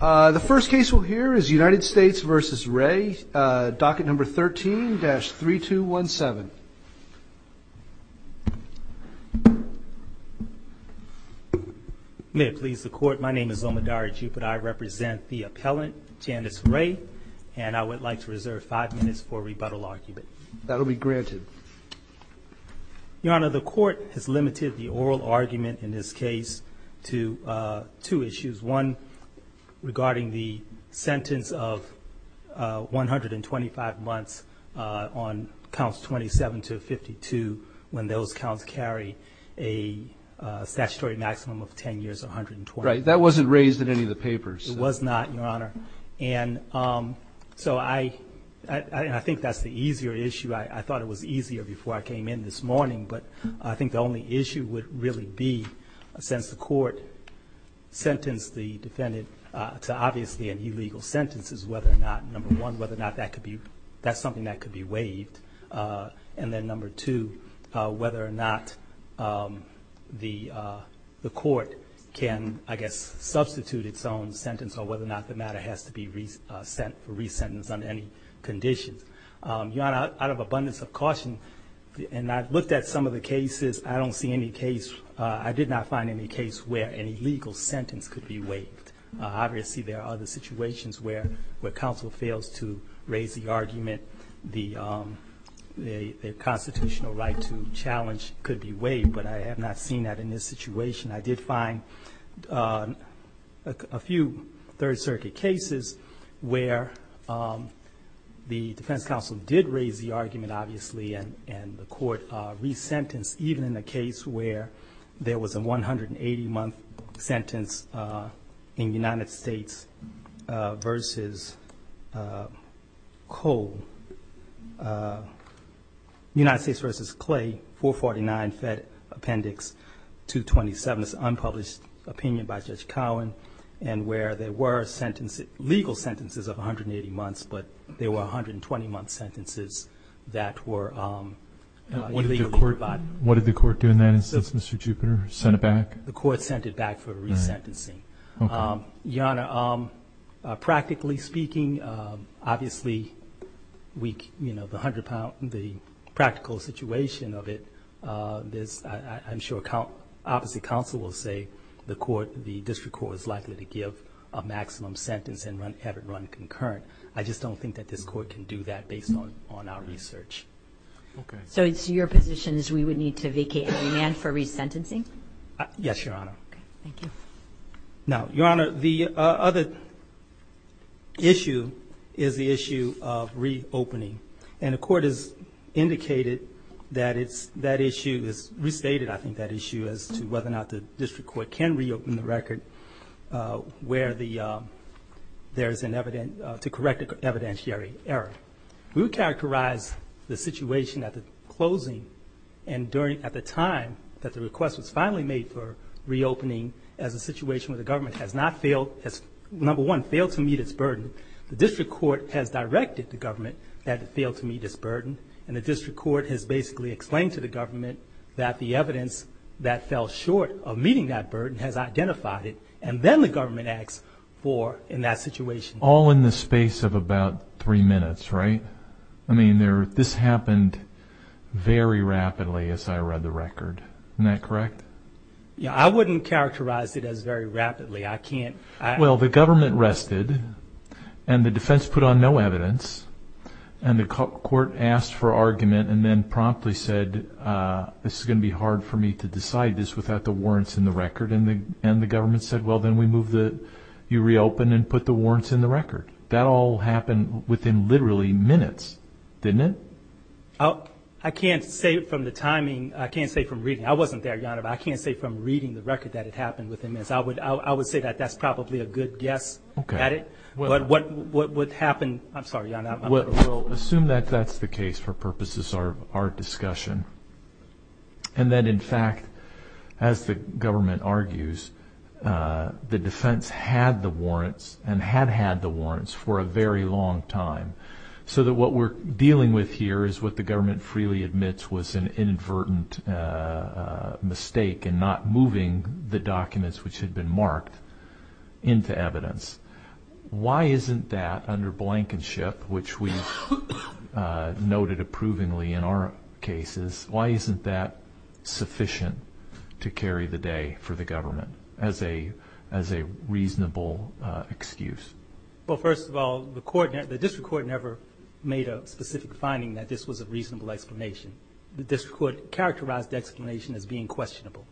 The first case we'll hear is United States v. Rey, docket number 13-3217. May it please the Court, my name is Omodari Jupiter, I represent the appellant, Janice Rey, and I would like to reserve five minutes for rebuttal argument. That'll be granted. Your Honor, the Court has limited the oral argument in this case to two issues. One, regarding the sentence of 125 months on counts 27-52, when those counts carry a statutory maximum of 10 years and 120 months. Right, that wasn't raised in any of the papers. It was not, Your Honor, and so I think that's the easier issue. I thought it was easier before I came in this morning, but I think the only issue would really be, since the Court sentenced the defendant to obviously an illegal sentence, is whether or not, number one, whether or not that's something that could be waived, and then number two, whether or not the Court can, I guess, substitute its own sentence or whether or not the matter has to be resentenced under any conditions. Your Honor, out of abundance of caution, and I've looked at some of the cases, I don't see any case, I did not find any case where an illegal sentence could be waived. Obviously, there are other situations where counsel fails to raise the argument. The constitutional right to challenge could be waived, but I have not seen that in this situation. I did find a few Third Circuit cases where the defense counsel did raise the argument, obviously, and the Court resentenced, even in the case where there was a 180-month sentence in United States v. Clay, 449, Fed Appendix 227. It's an unpublished opinion by Judge Cowen, and where there were legal sentences of 180 months, but there were 120-month sentences that were illegally provided. What did the Court do in that instance, Mr. Jupiter, send it back? The Court sent it back for resentencing. Your Honor, practically speaking, obviously, the practical situation of it, I'm sure opposite counsel will say the District Court is likely to give a maximum sentence and have it run concurrent. I just don't think that this Court can do that based on our research. Okay. So your position is we would need to vacate the demand for resentencing? Yes, Your Honor. Okay. Thank you. Now, Your Honor, the other issue is the issue of reopening, and the Court has indicated that that issue is restated, I think, that issue as to whether or not the District Court can reopen the record where there is an evidence to correct an evidentiary error. We would characterize the situation at the closing and at the time that the request was finally made for reopening as a situation where the government has, number one, failed to meet its burden. The District Court has directed the government that it failed to meet its burden, and the District Court has basically explained to the government that the evidence that fell short of meeting that burden has identified it, and then the government acts for in that situation. All in the space of about three minutes, right? I mean, this happened very rapidly as I read the record. Isn't that correct? Yeah, I wouldn't characterize it as very rapidly. I can't. Well, the government rested, and the defense put on no evidence, and the Court asked for argument and then promptly said, this is going to be hard for me to decide this without the warrants in the record, and the government said, well, then we move the, you reopen and put the warrants in the record. That all happened within literally minutes, didn't it? I can't say from the timing. I can't say from reading. I wasn't there, Your Honor, but I can't say from reading the record that it happened within minutes. I would say that that's probably a good guess at it. But what would happen, I'm sorry, Your Honor. Well, assume that that's the case for purposes of our discussion and that, in fact, as the government argues, the defense had the warrants and had had the warrants for a very long time so that what we're dealing with here is what the government freely admits was an inadvertent mistake in not moving the documents which had been marked into evidence. Why isn't that under blankenship, which we've noted approvingly in our cases, why isn't that sufficient to carry the day for the government as a reasonable excuse? Well, first of all, the district court never made a specific finding that this was a reasonable explanation. The district court characterized the explanation as being questionable.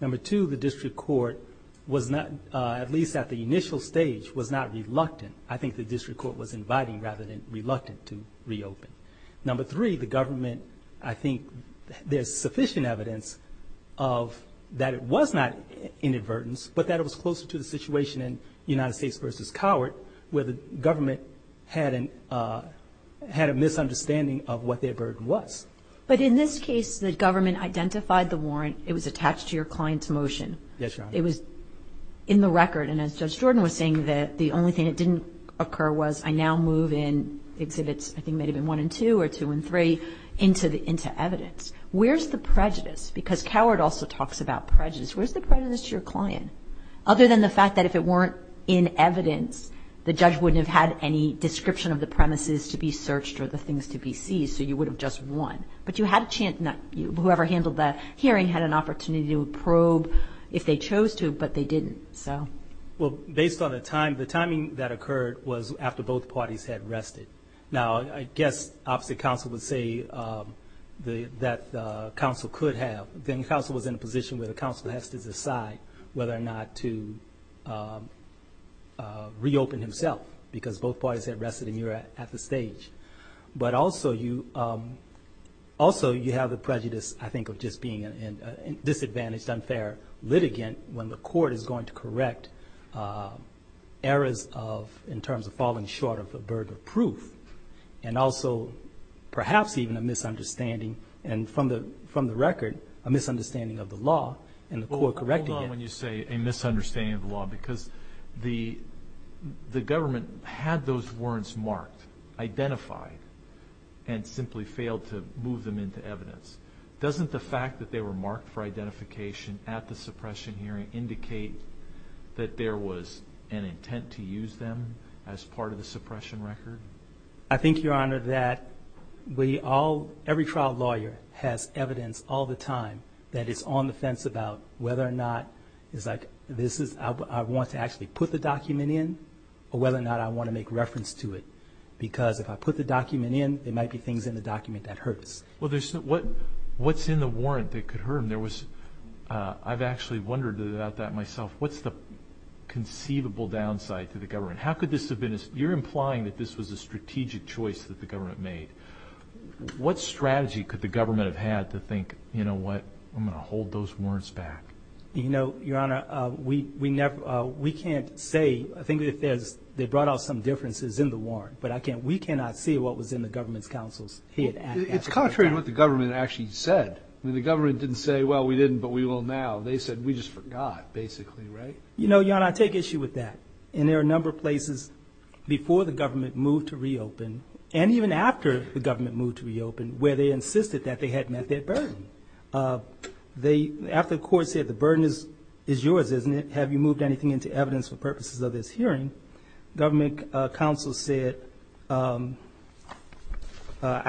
Number two, the district court was not, at least at the initial stage, was not reluctant. I think the district court was inviting rather than reluctant to reopen. Number three, the government, I think there's sufficient evidence of that it was not an inadvertence, but that it was closer to the situation in United States v. Coward where the government had a misunderstanding of what their burden was. But in this case, the government identified the warrant. It was attached to your client's motion. Yes, Your Honor. It was in the record, and as Judge Jordan was saying, that the only thing that didn't occur was I now move in exhibits, I think it may have been one and two or two and three, into evidence. Where's the prejudice? Because Coward also talks about prejudice. Where's the prejudice to your client? Other than the fact that if it weren't in evidence, the judge wouldn't have had any description of the premises to be searched or the things to be seized, so you would have just won. But whoever handled that hearing had an opportunity to probe if they chose to, but they didn't. Well, based on the timing that occurred was after both parties had rested. Now, I guess obviously counsel would say that counsel could have. Then counsel was in a position where the counsel has to decide whether or not to reopen himself because both parties had rested and you were at the stage. But also you have the prejudice, I think, of just being a disadvantaged, unfair litigant when the court is going to correct errors in terms of falling short of the burden of proof and also perhaps even a misunderstanding, and from the record, a misunderstanding of the law, and the court correcting it. Because the government had those words marked, identified, and simply failed to move them into evidence. Doesn't the fact that they were marked for identification at the suppression hearing indicate that there was an intent to use them as part of the suppression record? I think, Your Honor, that every trial lawyer has evidence all the time that is on the fence about whether or not it's like I want to actually put the document in or whether or not I want to make reference to it. Because if I put the document in, there might be things in the document that hurts. Well, what's in the warrant that could hurt him? I've actually wondered about that myself. What's the conceivable downside to the government? You're implying that this was a strategic choice that the government made. What strategy could the government have had to think, you know what, I'm going to hold those warrants back? You know, Your Honor, we can't say. I think they brought out some differences in the warrant, but we cannot see what was in the government's counsel's head. It's contrary to what the government actually said. The government didn't say, well, we didn't, but we will now. They said we just forgot, basically, right? You know, Your Honor, I take issue with that. And there are a number of places before the government moved to reopen and even after the government moved to reopen where they insisted that they had met their burden. After the court said the burden is yours, isn't it? Have you moved anything into evidence for purposes of this hearing? Government counsel said, I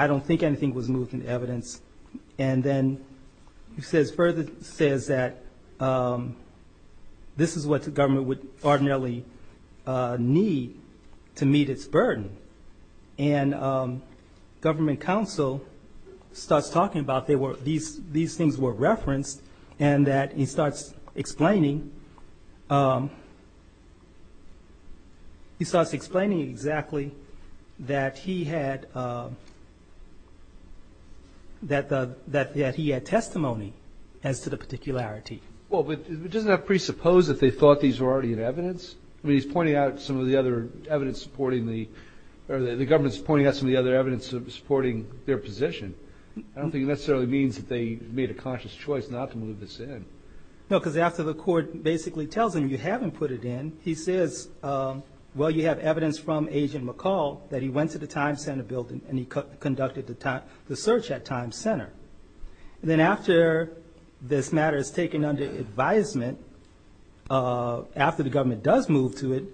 don't think anything was moved into evidence. And then it further says that this is what the government would ordinarily need to meet its burden. And government counsel starts talking about these things were referenced and that he starts explaining exactly that he had testimony as to the particularity. Well, but doesn't that presuppose that they thought these were already in evidence? I mean, he's pointing out some of the other evidence supporting the, or the government's pointing out some of the other evidence supporting their position. I don't think it necessarily means that they made a conscious choice not to move this in. No, because after the court basically tells him you haven't put it in, he says, well, you have evidence from Agent McCall that he went to the Time Center building and he conducted the search at Time Center. And then after this matter is taken under advisement, after the government does move to it,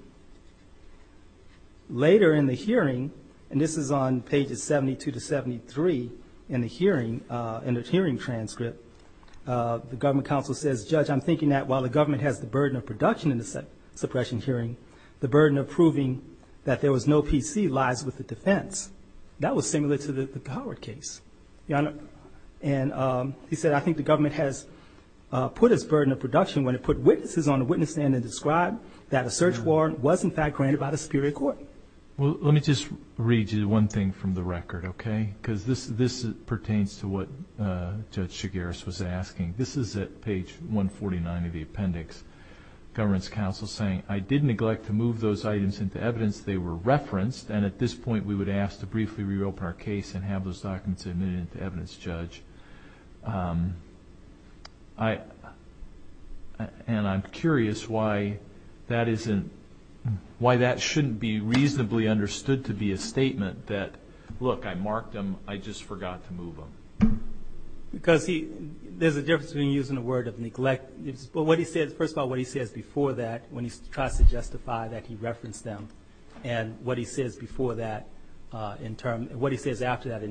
later in the hearing, and this is on pages 72 to 73 in the hearing, in the hearing transcript, the government counsel says, Judge, I'm thinking that while the government has the burden of production in the suppression hearing, the burden of proving that there was no PC lies with the defense. That was similar to the Howard case. And he said, I think the government has put its burden of production when it put witnesses on the witness stand and described that a search warrant was, in fact, granted by the Superior Court. Well, let me just read you one thing from the record, okay? Because this pertains to what Judge Shigaris was asking. This is at page 149 of the appendix. The government's counsel is saying, I did neglect to move those items into evidence. They were referenced, and at this point we would ask to briefly reopen our case and have those documents admitted to evidence, Judge. And I'm curious why that shouldn't be reasonably understood to be a statement that, look, I marked them. I just forgot to move them. Because there's a difference between using the word of neglect. First of all, what he says before that when he tries to justify that he referenced them and what he says after that in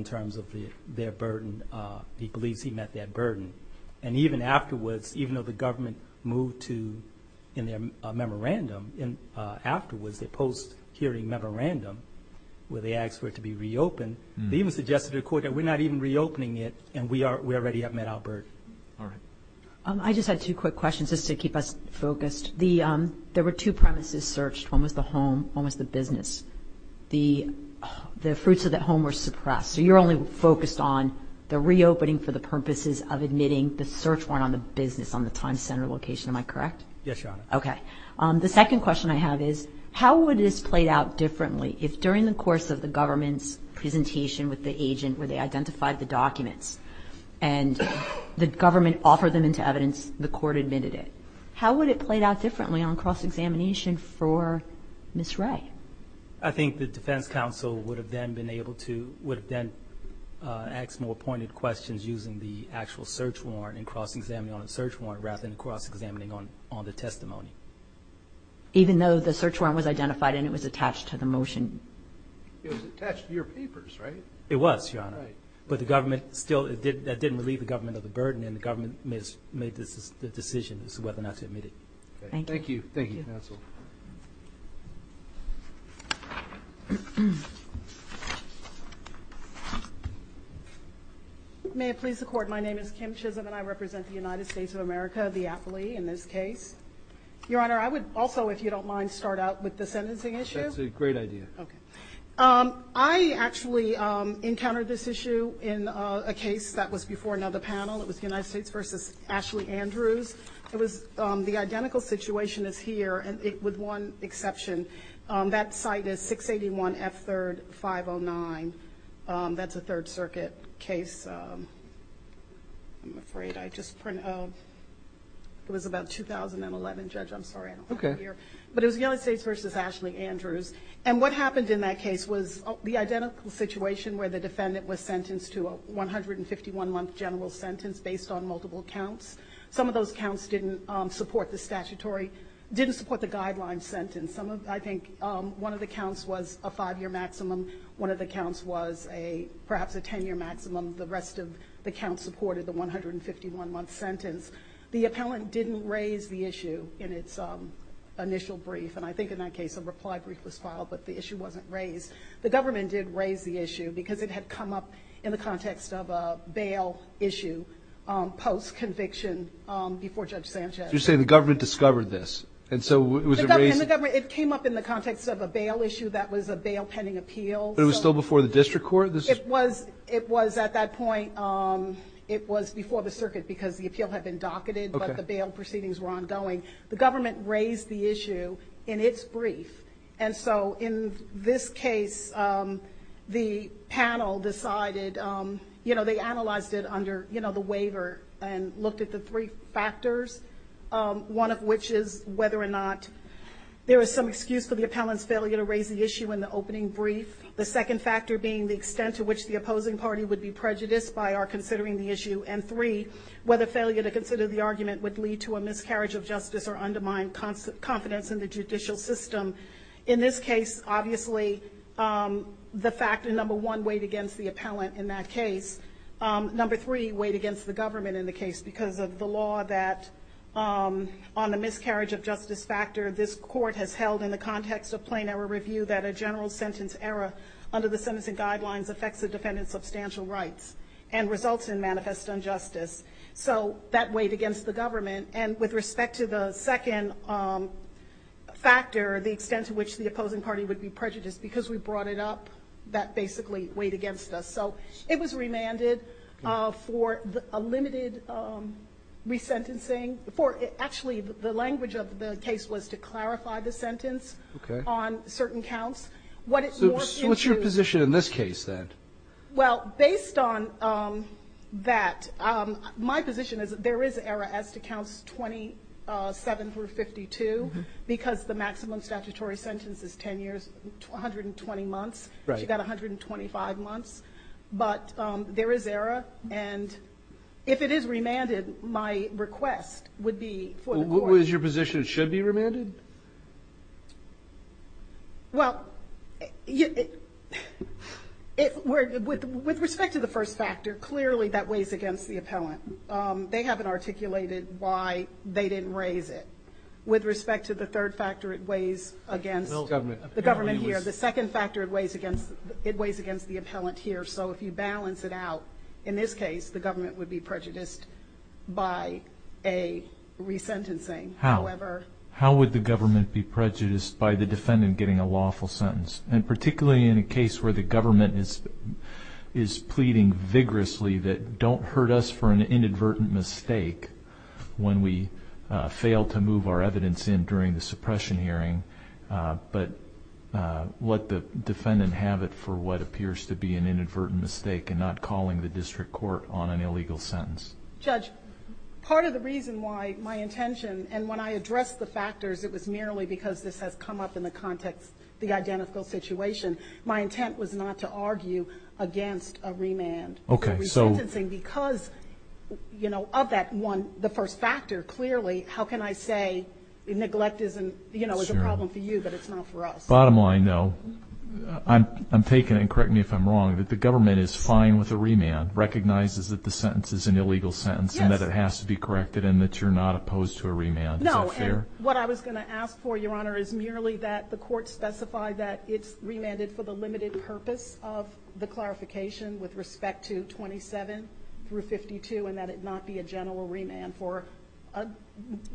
terms of their burden, he believes he met that burden. And even afterwards, even though the government moved to, in their memorandum, afterwards, their post-hearing memorandum where they asked for it to be reopened, they even suggested to the Court that we're not even reopening it and we already have met our burden. All right. I just had two quick questions just to keep us focused. There were two premises searched. One was the home, one was the business. The fruits of that home were suppressed. So you're only focused on the reopening for the purposes of admitting the search warrant on the business, on the Time Center location. Am I correct? Yes, Your Honor. Okay. The second question I have is, how would this play out differently if during the course of the government's and the government offered them into evidence, the Court admitted it? How would it play out differently on cross-examination for Ms. Ray? I think the defense counsel would have then been able to, would have then asked more pointed questions using the actual search warrant and cross-examining on the search warrant rather than cross-examining on the testimony. Even though the search warrant was identified and it was attached to the motion? It was attached to your papers, right? It was, Your Honor. Right. But the government still, that didn't relieve the government of the burden, and the government made the decision as to whether or not to admit it. Thank you. Thank you. Thank you, counsel. May it please the Court, my name is Kim Chisholm and I represent the United States of America, the affilee in this case. Your Honor, I would also, if you don't mind, start out with the sentencing issue. That's a great idea. Okay. I actually encountered this issue in a case that was before another panel. It was the United States v. Ashley Andrews. It was, the identical situation is here with one exception. That site is 681 F3rd 509. That's a Third Circuit case. I'm afraid I just, it was about 2011, Judge, I'm sorry I don't have it here. But it was the United States v. Ashley Andrews. And what happened in that case was the identical situation where the defendant was sentenced to a 151-month general sentence based on multiple counts. Some of those counts didn't support the statutory, didn't support the guideline sentence. I think one of the counts was a five-year maximum. One of the counts was perhaps a ten-year maximum. The rest of the counts supported the 151-month sentence. The appellant didn't raise the issue in its initial brief, and I think in that case a reply brief was filed, but the issue wasn't raised. The government did raise the issue because it had come up in the context of a bail issue post-conviction before Judge Sanchez. You're saying the government discovered this. And so was it raised? It came up in the context of a bail issue that was a bail pending appeal. But it was still before the district court? It was at that point. It was before the circuit because the appeal had been docketed, but the bail proceedings were ongoing. The government raised the issue in its brief, and so in this case the panel decided, you know, they analyzed it under the waiver and looked at the three factors, one of which is whether or not there was some excuse for the appellant's failure to raise the issue in the opening brief, the second factor being the extent to which the opposing party would be prejudiced by our considering the issue, and three, whether failure to consider the argument would lead to a miscarriage of justice or undermine confidence in the judicial system. In this case, obviously, the factor number one weighed against the appellant in that case. Number three weighed against the government in the case because of the law that on the miscarriage of justice factor, this court has held in the context of plain error review that a general sentence error under the sentencing guidelines affects the defendant's substantial rights and results in manifest injustice. So that weighed against the government. And with respect to the second factor, the extent to which the opposing party would be prejudiced because we brought it up, that basically weighed against us. So it was remanded for a limited resentencing for actually the language of the case was to clarify the sentence on certain counts. So what's your position in this case, then? Well, based on that, my position is that there is error as to counts 27 through 52 because the maximum statutory sentence is 10 years, 120 months. Right. She got 125 months. But there is error. And if it is remanded, my request would be for the court to do so. What was your position? It should be remanded? Well, with respect to the first factor, clearly that weighs against the appellant. They haven't articulated why they didn't raise it. With respect to the third factor, it weighs against the government here. The second factor, it weighs against the appellant here. So if you balance it out, in this case, the government would be prejudiced by a resentencing. How? How would the government be prejudiced by the defendant getting a lawful sentence? And particularly in a case where the government is pleading vigorously that don't hurt us for an inadvertent mistake when we fail to move our evidence in during the suppression hearing, but let the defendant have it for what appears to be an inadvertent mistake and not calling the district court on an illegal sentence. Judge, part of the reason why my intention, and when I addressed the factors it was merely because this has come up in the context, the identical situation, my intent was not to argue against a remand. Okay. A resentencing because, you know, of that one, the first factor, clearly how can I say neglect is a problem for you but it's not for us? Bottom line, no. I'm taking it, and correct me if I'm wrong, that the government is fine with a remand, recognizes that the sentence is an illegal sentence and that it has to be corrected and that you're not opposed to a remand. No, and what I was going to ask for, Your Honor, is merely that the court specify that it's remanded for the limited purpose of the clarification with respect to 27 through 52 and that it not be a general remand for a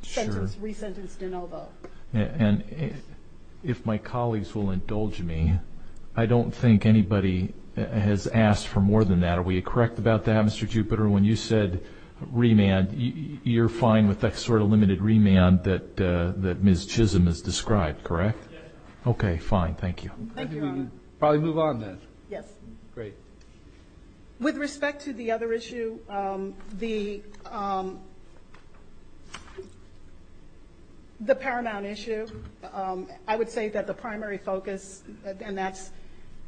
resentenced de novo. And if my colleagues will indulge me, I don't think anybody has asked for more than that. Are we correct about that, Mr. Jupiter? When you said remand, you're fine with that sort of limited remand that Ms. Chisholm has described, correct? Yes. Okay, fine. Thank you. Thank you, Your Honor. Probably move on then. Yes. Great. With respect to the other issue, the paramount issue, I would say that the primary focus, and that's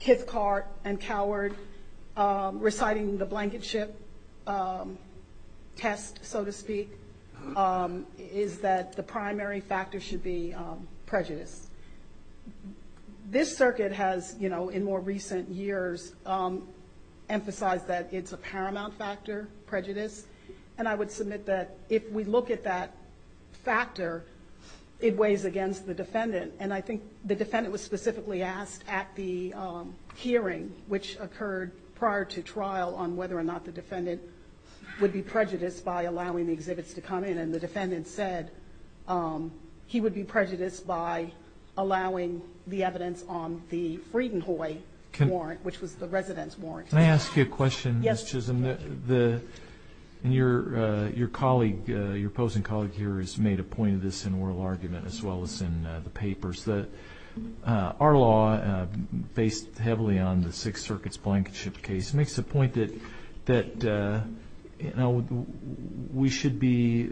Kithcart and Coward reciting the blanket ship test, so to speak, is that the primary factor should be prejudice. This circuit has, in more recent years, emphasized that it's a paramount factor, prejudice, and I would submit that if we look at that factor, it weighs against the defendant. And I think the defendant was specifically asked at the hearing, which occurred prior to trial on whether or not the defendant would be prejudiced by allowing the exhibits to come in, and the defendant said he would be prejudiced by allowing the evidence on the Friedenhoi warrant, which was the resident's warrant. Can I ask you a question, Ms. Chisholm? Yes. And your colleague, your opposing colleague here has made a point of this in oral argument as well as in the papers, that our law, based heavily on the Sixth Circuit's blanket ship case, makes the point that we should be,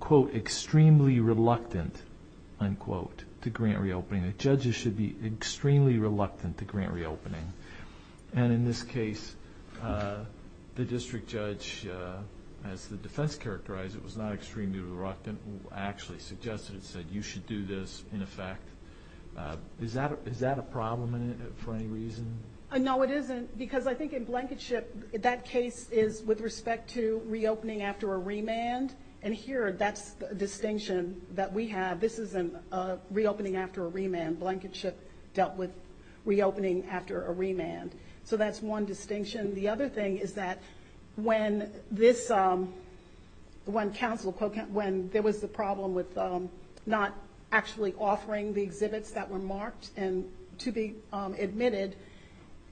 quote, extremely reluctant, unquote, to grant reopening. Judges should be extremely reluctant to grant reopening. And in this case, the district judge, as the defense characterized it, was not extremely reluctant, actually suggested it, said you should do this, in effect. Is that a problem for any reason? No, it isn't, because I think in blanket ship, that case is with respect to reopening after a remand, and here that's the distinction that we have. This isn't reopening after a remand. Blanket ship dealt with reopening after a remand. So that's one distinction. The other thing is that when there was the problem with not actually offering the exhibits that were marked and to be admitted,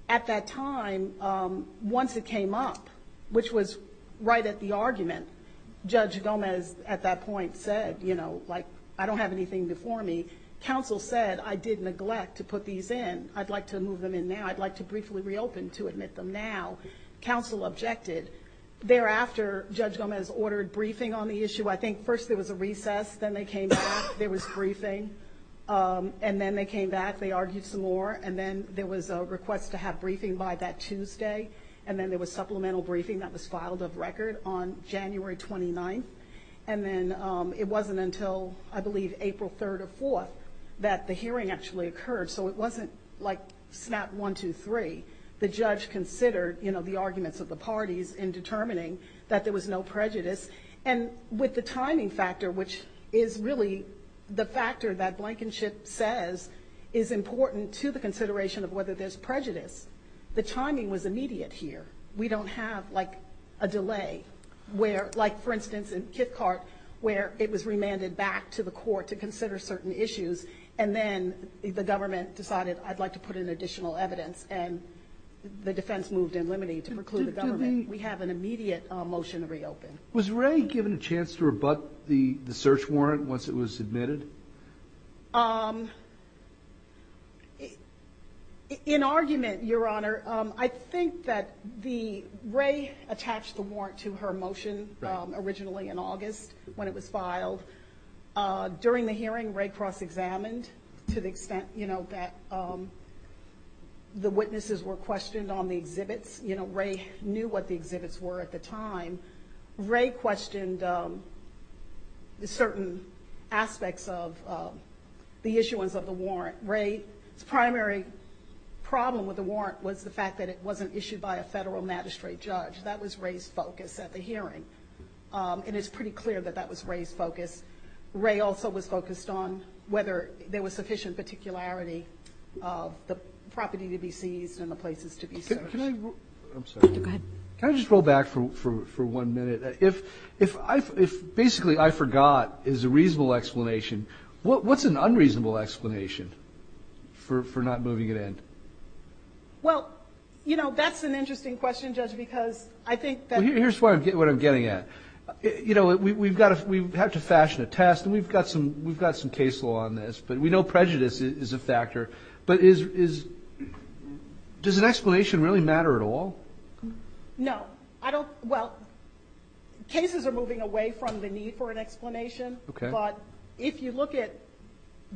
at that time, once it came up, which was right at the argument, Judge Gomez at that point said, you know, like, I don't have anything before me. Counsel said, I did neglect to put these in. I'd like to move them in now. I'd like to briefly reopen to admit them now. Counsel objected. Thereafter, Judge Gomez ordered briefing on the issue. I think first there was a recess. Then they came back. There was briefing. And then they came back. They argued some more. And then there was a request to have briefing by that Tuesday. And then there was supplemental briefing that was filed of record on January 29th. And then it wasn't until, I believe, April 3rd or 4th that the hearing actually occurred. So it wasn't, like, snap, one, two, three. The judge considered, you know, the arguments of the parties in determining that there was no prejudice. And with the timing factor, which is really the factor that Blankenship says is important to the consideration of whether there's prejudice, the timing was immediate here. We don't have, like, a delay where, like, for instance, in Kithcart, where it was remanded back to the court to consider certain issues. And then the government decided, I'd like to put in additional evidence. And the defense moved in limine to preclude the government. We have an immediate motion to reopen. Was Ray given a chance to rebut the search warrant once it was admitted? In argument, Your Honor, I think that the Ray attached the warrant to her motion originally in August when it was filed. During the hearing, Ray cross-examined to the extent, you know, that the witnesses were questioned on the exhibits. You know, Ray knew what the exhibits were at the time. Ray questioned certain aspects of the issuance of the warrant. Ray's primary problem with the warrant was the fact that it wasn't issued by a federal magistrate judge. That was Ray's focus at the hearing. And it's pretty clear that that was Ray's focus. Ray also was focused on whether there was sufficient particularity of the property to be seized and the places to be searched. I'm sorry. Go ahead. Can I just roll back for one minute? If basically I forgot is a reasonable explanation, what's an unreasonable explanation for not moving it in? Well, you know, that's an interesting question, Judge, because I think that — Here's what I'm getting at. You know, we've got to fashion a test, and we've got some case law on this, but we know prejudice is a factor. But is — does an explanation really matter at all? No. I don't — well, cases are moving away from the need for an explanation. Okay. But if you look at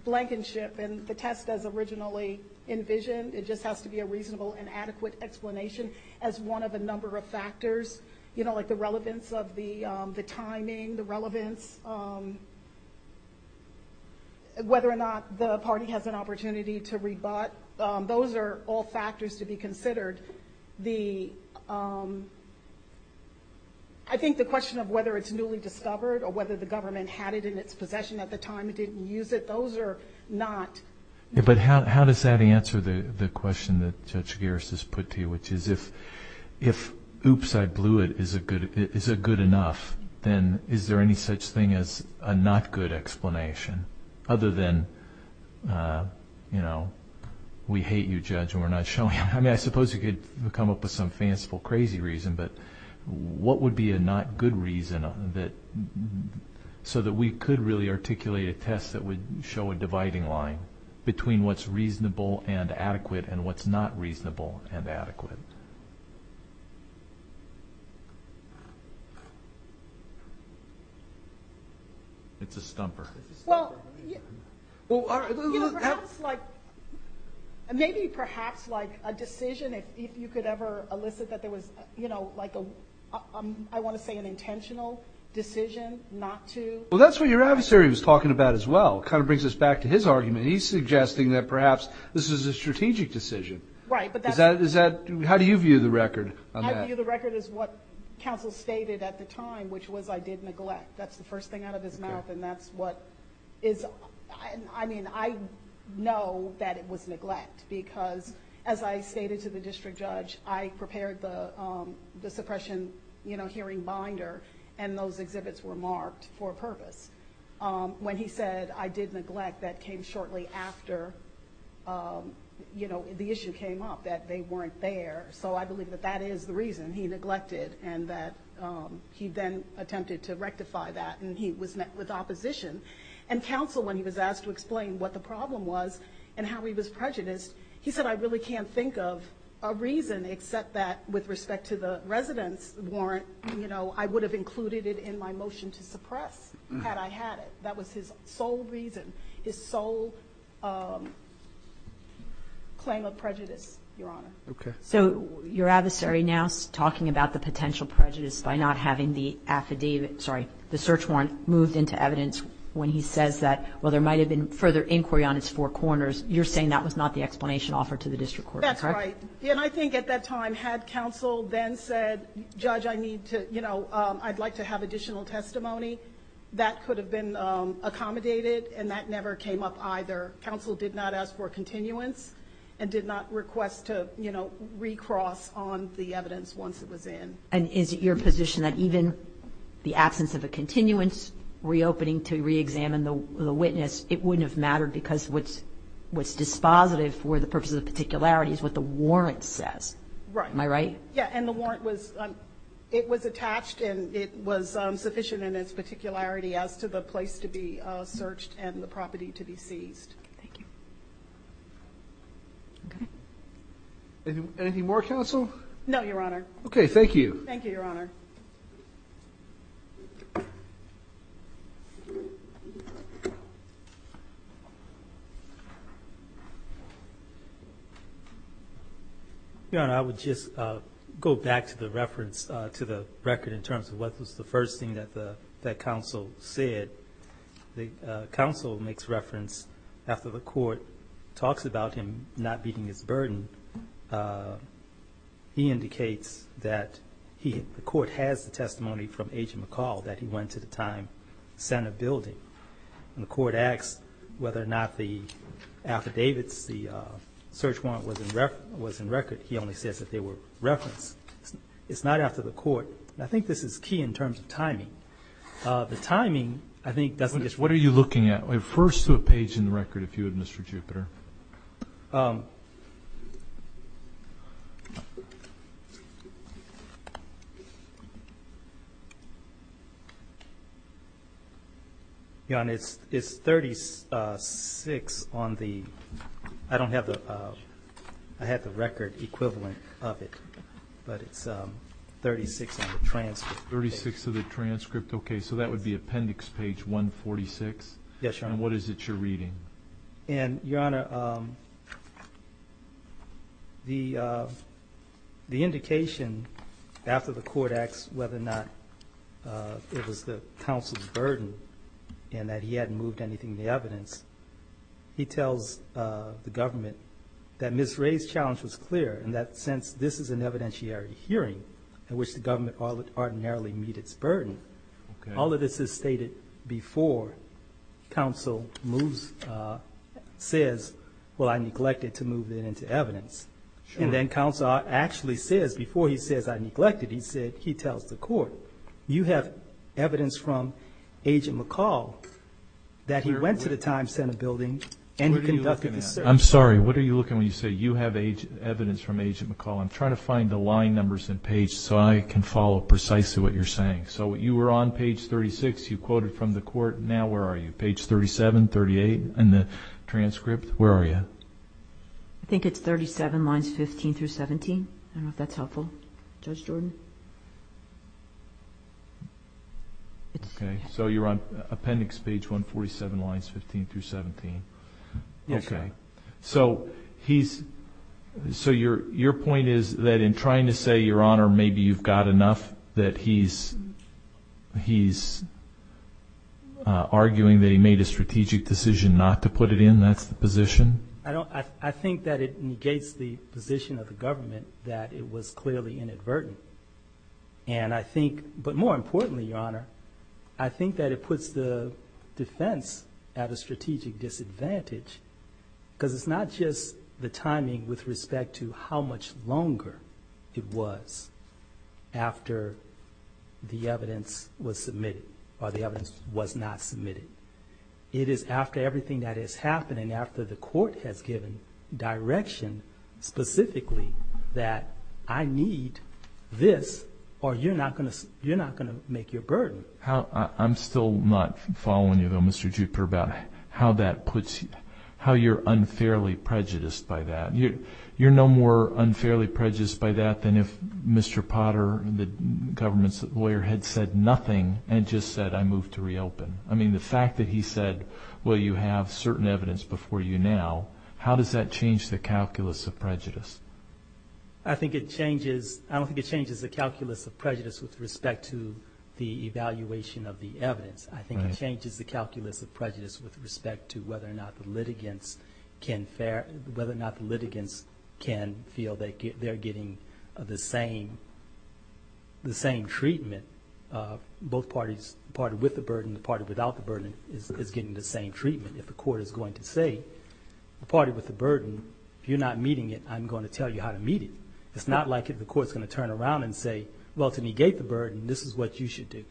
blankenship and the test as originally envisioned, it just has to be a reasonable and adequate explanation as one of a number of factors, you know, like the relevance of the timing, the relevance, whether or not the party has an opportunity to rebut. Those are all factors to be considered. The — I think the question of whether it's newly discovered or whether the government had it in its possession at the time and didn't use it, those are not — Yeah, but how does that answer the question that Judge Garris has put to you, which is if oops, I blew it, is it good enough, then is there any such thing as a not-good explanation, other than, you know, we hate you, Judge, and we're not showing — I mean, I suppose you could come up with some fanciful, crazy reason, but what would be a not-good reason that — so that we could really articulate a test that would show a dividing line between what's reasonable and adequate and what's not reasonable and adequate? It's a stumper. Well, you know, perhaps like — maybe perhaps like a decision, if you could ever elicit that there was, you know, like a — I want to say an intentional decision not to — Well, that's what your adversary was talking about as well. It kind of brings us back to his argument. He's suggesting that perhaps this is a strategic decision. Right, but that's — Is that — how do you view the record on that? I view the record as what counsel stated at the time, which was I did neglect. That's the first thing out of his mouth, and that's what is — I mean, I know that it was neglect, because as I stated to the district judge, I prepared the suppression, you know, hearing binder, and those exhibits were marked for a purpose. When he said I did neglect, that came shortly after, you know, the issue came up that they weren't there. So I believe that that is the reason he neglected and that he then attempted to rectify that, and he was met with opposition. And counsel, when he was asked to explain what the problem was and how he was prejudiced, he said I really can't think of a reason except that with respect to the residence warrant, you know, I would have included it in my motion to suppress had I had it. That was his sole reason, his sole claim of prejudice, Your Honor. Okay. So your adversary now is talking about the potential prejudice by not having the affidavit — sorry, the search warrant moved into evidence when he says that, well, there might have been further inquiry on its four corners. You're saying that was not the explanation offered to the district court, correct? That's right. And I think at that time, had counsel then said, Judge, I need to, you know, I'd like to have additional testimony, that could have been accommodated, and that never came up either. Counsel did not ask for a continuance and did not request to, you know, recross on the evidence once it was in. And is it your position that even the absence of a continuance reopening to reexamine the witness, it wouldn't have mattered because what's dispositive for the purposes of particularities, is what the warrant says. Right. Am I right? Yeah. And the warrant was, it was attached and it was sufficient in its particularity as to the place to be searched and the property to be seized. Thank you. Okay. Anything more, counsel? No, Your Honor. Okay. Thank you. Thank you, Your Honor. Your Honor, I would just go back to the reference, to the record in terms of what was the first thing that counsel said. The counsel makes reference after the court talks about him not beating his burden. He indicates that the court has the testimony from Agent McCall that he went to the time, sent a building. And the court asks whether or not the affidavits, the search warrant was in record. He only says that they were referenced. It's not after the court. And I think this is key in terms of timing. The timing, I think, doesn't just work. What are you looking at? First to a page in the record, if you would, Mr. Jupiter. Your Honor, it's 36 on the, I don't have the, I have the record equivalent of it, but it's 36 on the transcript. Thirty-six to the transcript. Okay. So that would be appendix page 146? Yes, Your Honor. And what is it you're reading? And, Your Honor, the indication after the court asks whether or not it was the counsel's burden and that he hadn't moved anything in the evidence, he tells the government that Ms. Ray's challenge was clear and that since this is an evidentiary hearing in which the government ordinarily meet its burden, all of this is stated before counsel moves, says, well, I neglected to move it into evidence. And then counsel actually says, before he says I neglected, he tells the court, you have evidence from Agent McCall that he went to the Time Center building and conducted the search. I'm sorry. What are you looking at when you say you have evidence from Agent McCall? I'm trying to find the line numbers in page so I can follow precisely what you're saying. So you were on page 36. You quoted from the court. Now where are you? Page 37, 38 in the transcript? Where are you? I think it's 37 lines 15 through 17. I don't know if that's helpful. Judge Jordan? Okay. So you're on appendix page 147 lines 15 through 17. Yes, Your Honor. So your point is that in trying to say, Your Honor, maybe you've got enough, that he's arguing that he made a strategic decision not to put it in? That's the position? I think that it negates the position of the government that it was clearly inadvertent. And I think, but more importantly, Your Honor, I think that it puts the defense at a strategic disadvantage because it's not just the timing with respect to how much longer it was after the evidence was submitted or the evidence was not submitted. It is after everything that has happened and after the court has given direction specifically that I need this or you're not going to make your burden. I'm still not following you, though, Mr. Jupiter, about how you're unfairly prejudiced by that. You're no more unfairly prejudiced by that than if Mr. Potter, the government's lawyer, had said nothing and just said, I move to reopen. I mean, the fact that he said, well, you have certain evidence before you now, how does that change the calculus of prejudice? I don't think it changes the calculus of prejudice with respect to the evaluation of the evidence. I think it changes the calculus of prejudice with respect to whether or not the litigants can feel that they're getting the same treatment, both parties, the party with the burden and the party without the burden is getting the same treatment. If the court is going to say, the party with the burden, if you're not meeting it, I'm going to tell you how to meet it. It's not like the court is going to turn around and say, well, to negate the burden, this is what you should do.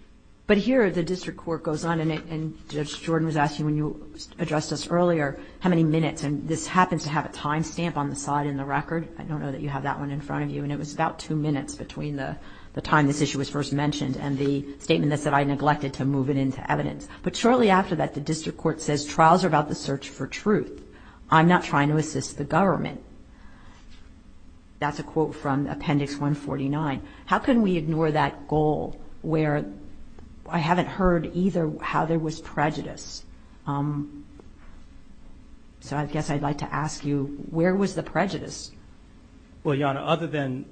But here the district court goes on, and Judge Jordan was asking when you addressed us earlier how many minutes, and this happens to have a time stamp on the side in the record. I don't know that you have that one in front of you, and it was about two minutes between the time this issue was first mentioned and the statement that said I neglected to move it into evidence. But shortly after that, the district court says, trials are about the search for truth. I'm not trying to assist the government. That's a quote from Appendix 149. How can we ignore that goal where I haven't heard either how there was prejudice? So I guess I'd like to ask you, where was the prejudice? Well, Your Honor, other than,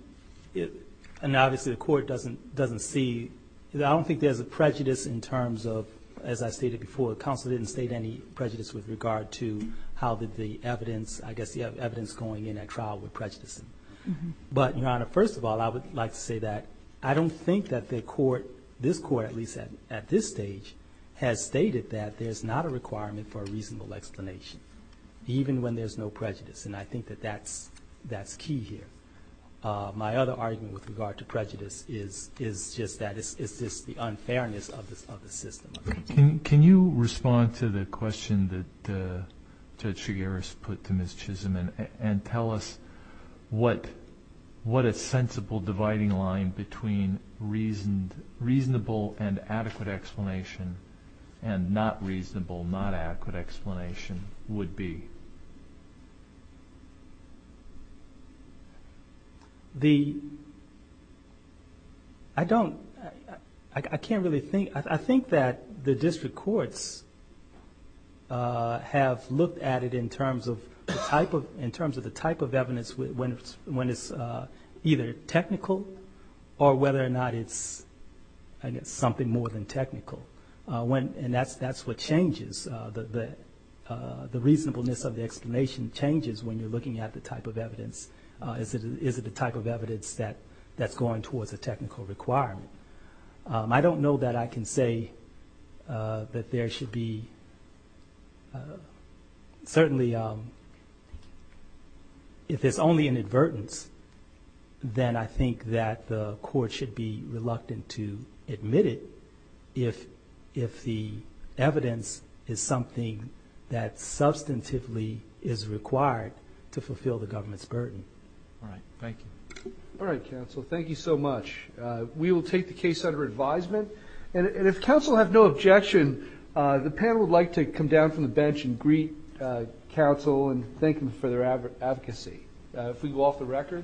and obviously the court doesn't see, I don't think there's a prejudice in terms of, as I stated before, the counsel didn't state any prejudice with regard to how the evidence, I guess the evidence going in at trial would prejudice them. But, Your Honor, first of all, I would like to say that I don't think that the court, this court at least at this stage, has stated that there's not a requirement for a reasonable explanation, even when there's no prejudice. And I think that that's key here. My other argument with regard to prejudice is just that it's just the unfairness of the system. Can you respond to the question that Judge Chigaris put to Ms. Chisholm and tell us what a sensible dividing line between reasonable and adequate explanation and not reasonable, not adequate explanation would be? The, I don't, I can't really think, I think that the district courts have looked at it in terms of the type of, in terms of the type of evidence when it's either technical or whether or not it's something more than technical. And that's what changes. The reasonableness of the explanation changes when you're looking at the type of evidence. Is it a type of evidence that's going towards a technical requirement? I don't know that I can say that there should be, certainly if it's only an advertence, then I think that the court should be reluctant to admit it if the evidence is something that substantively is required to fulfill the government's burden. All right. Thank you. All right, counsel. Thank you so much. We will take the case under advisement. And if counsel have no objection, the panel would like to come down from the bench and greet counsel and thank them for their advocacy. If we can go off the record.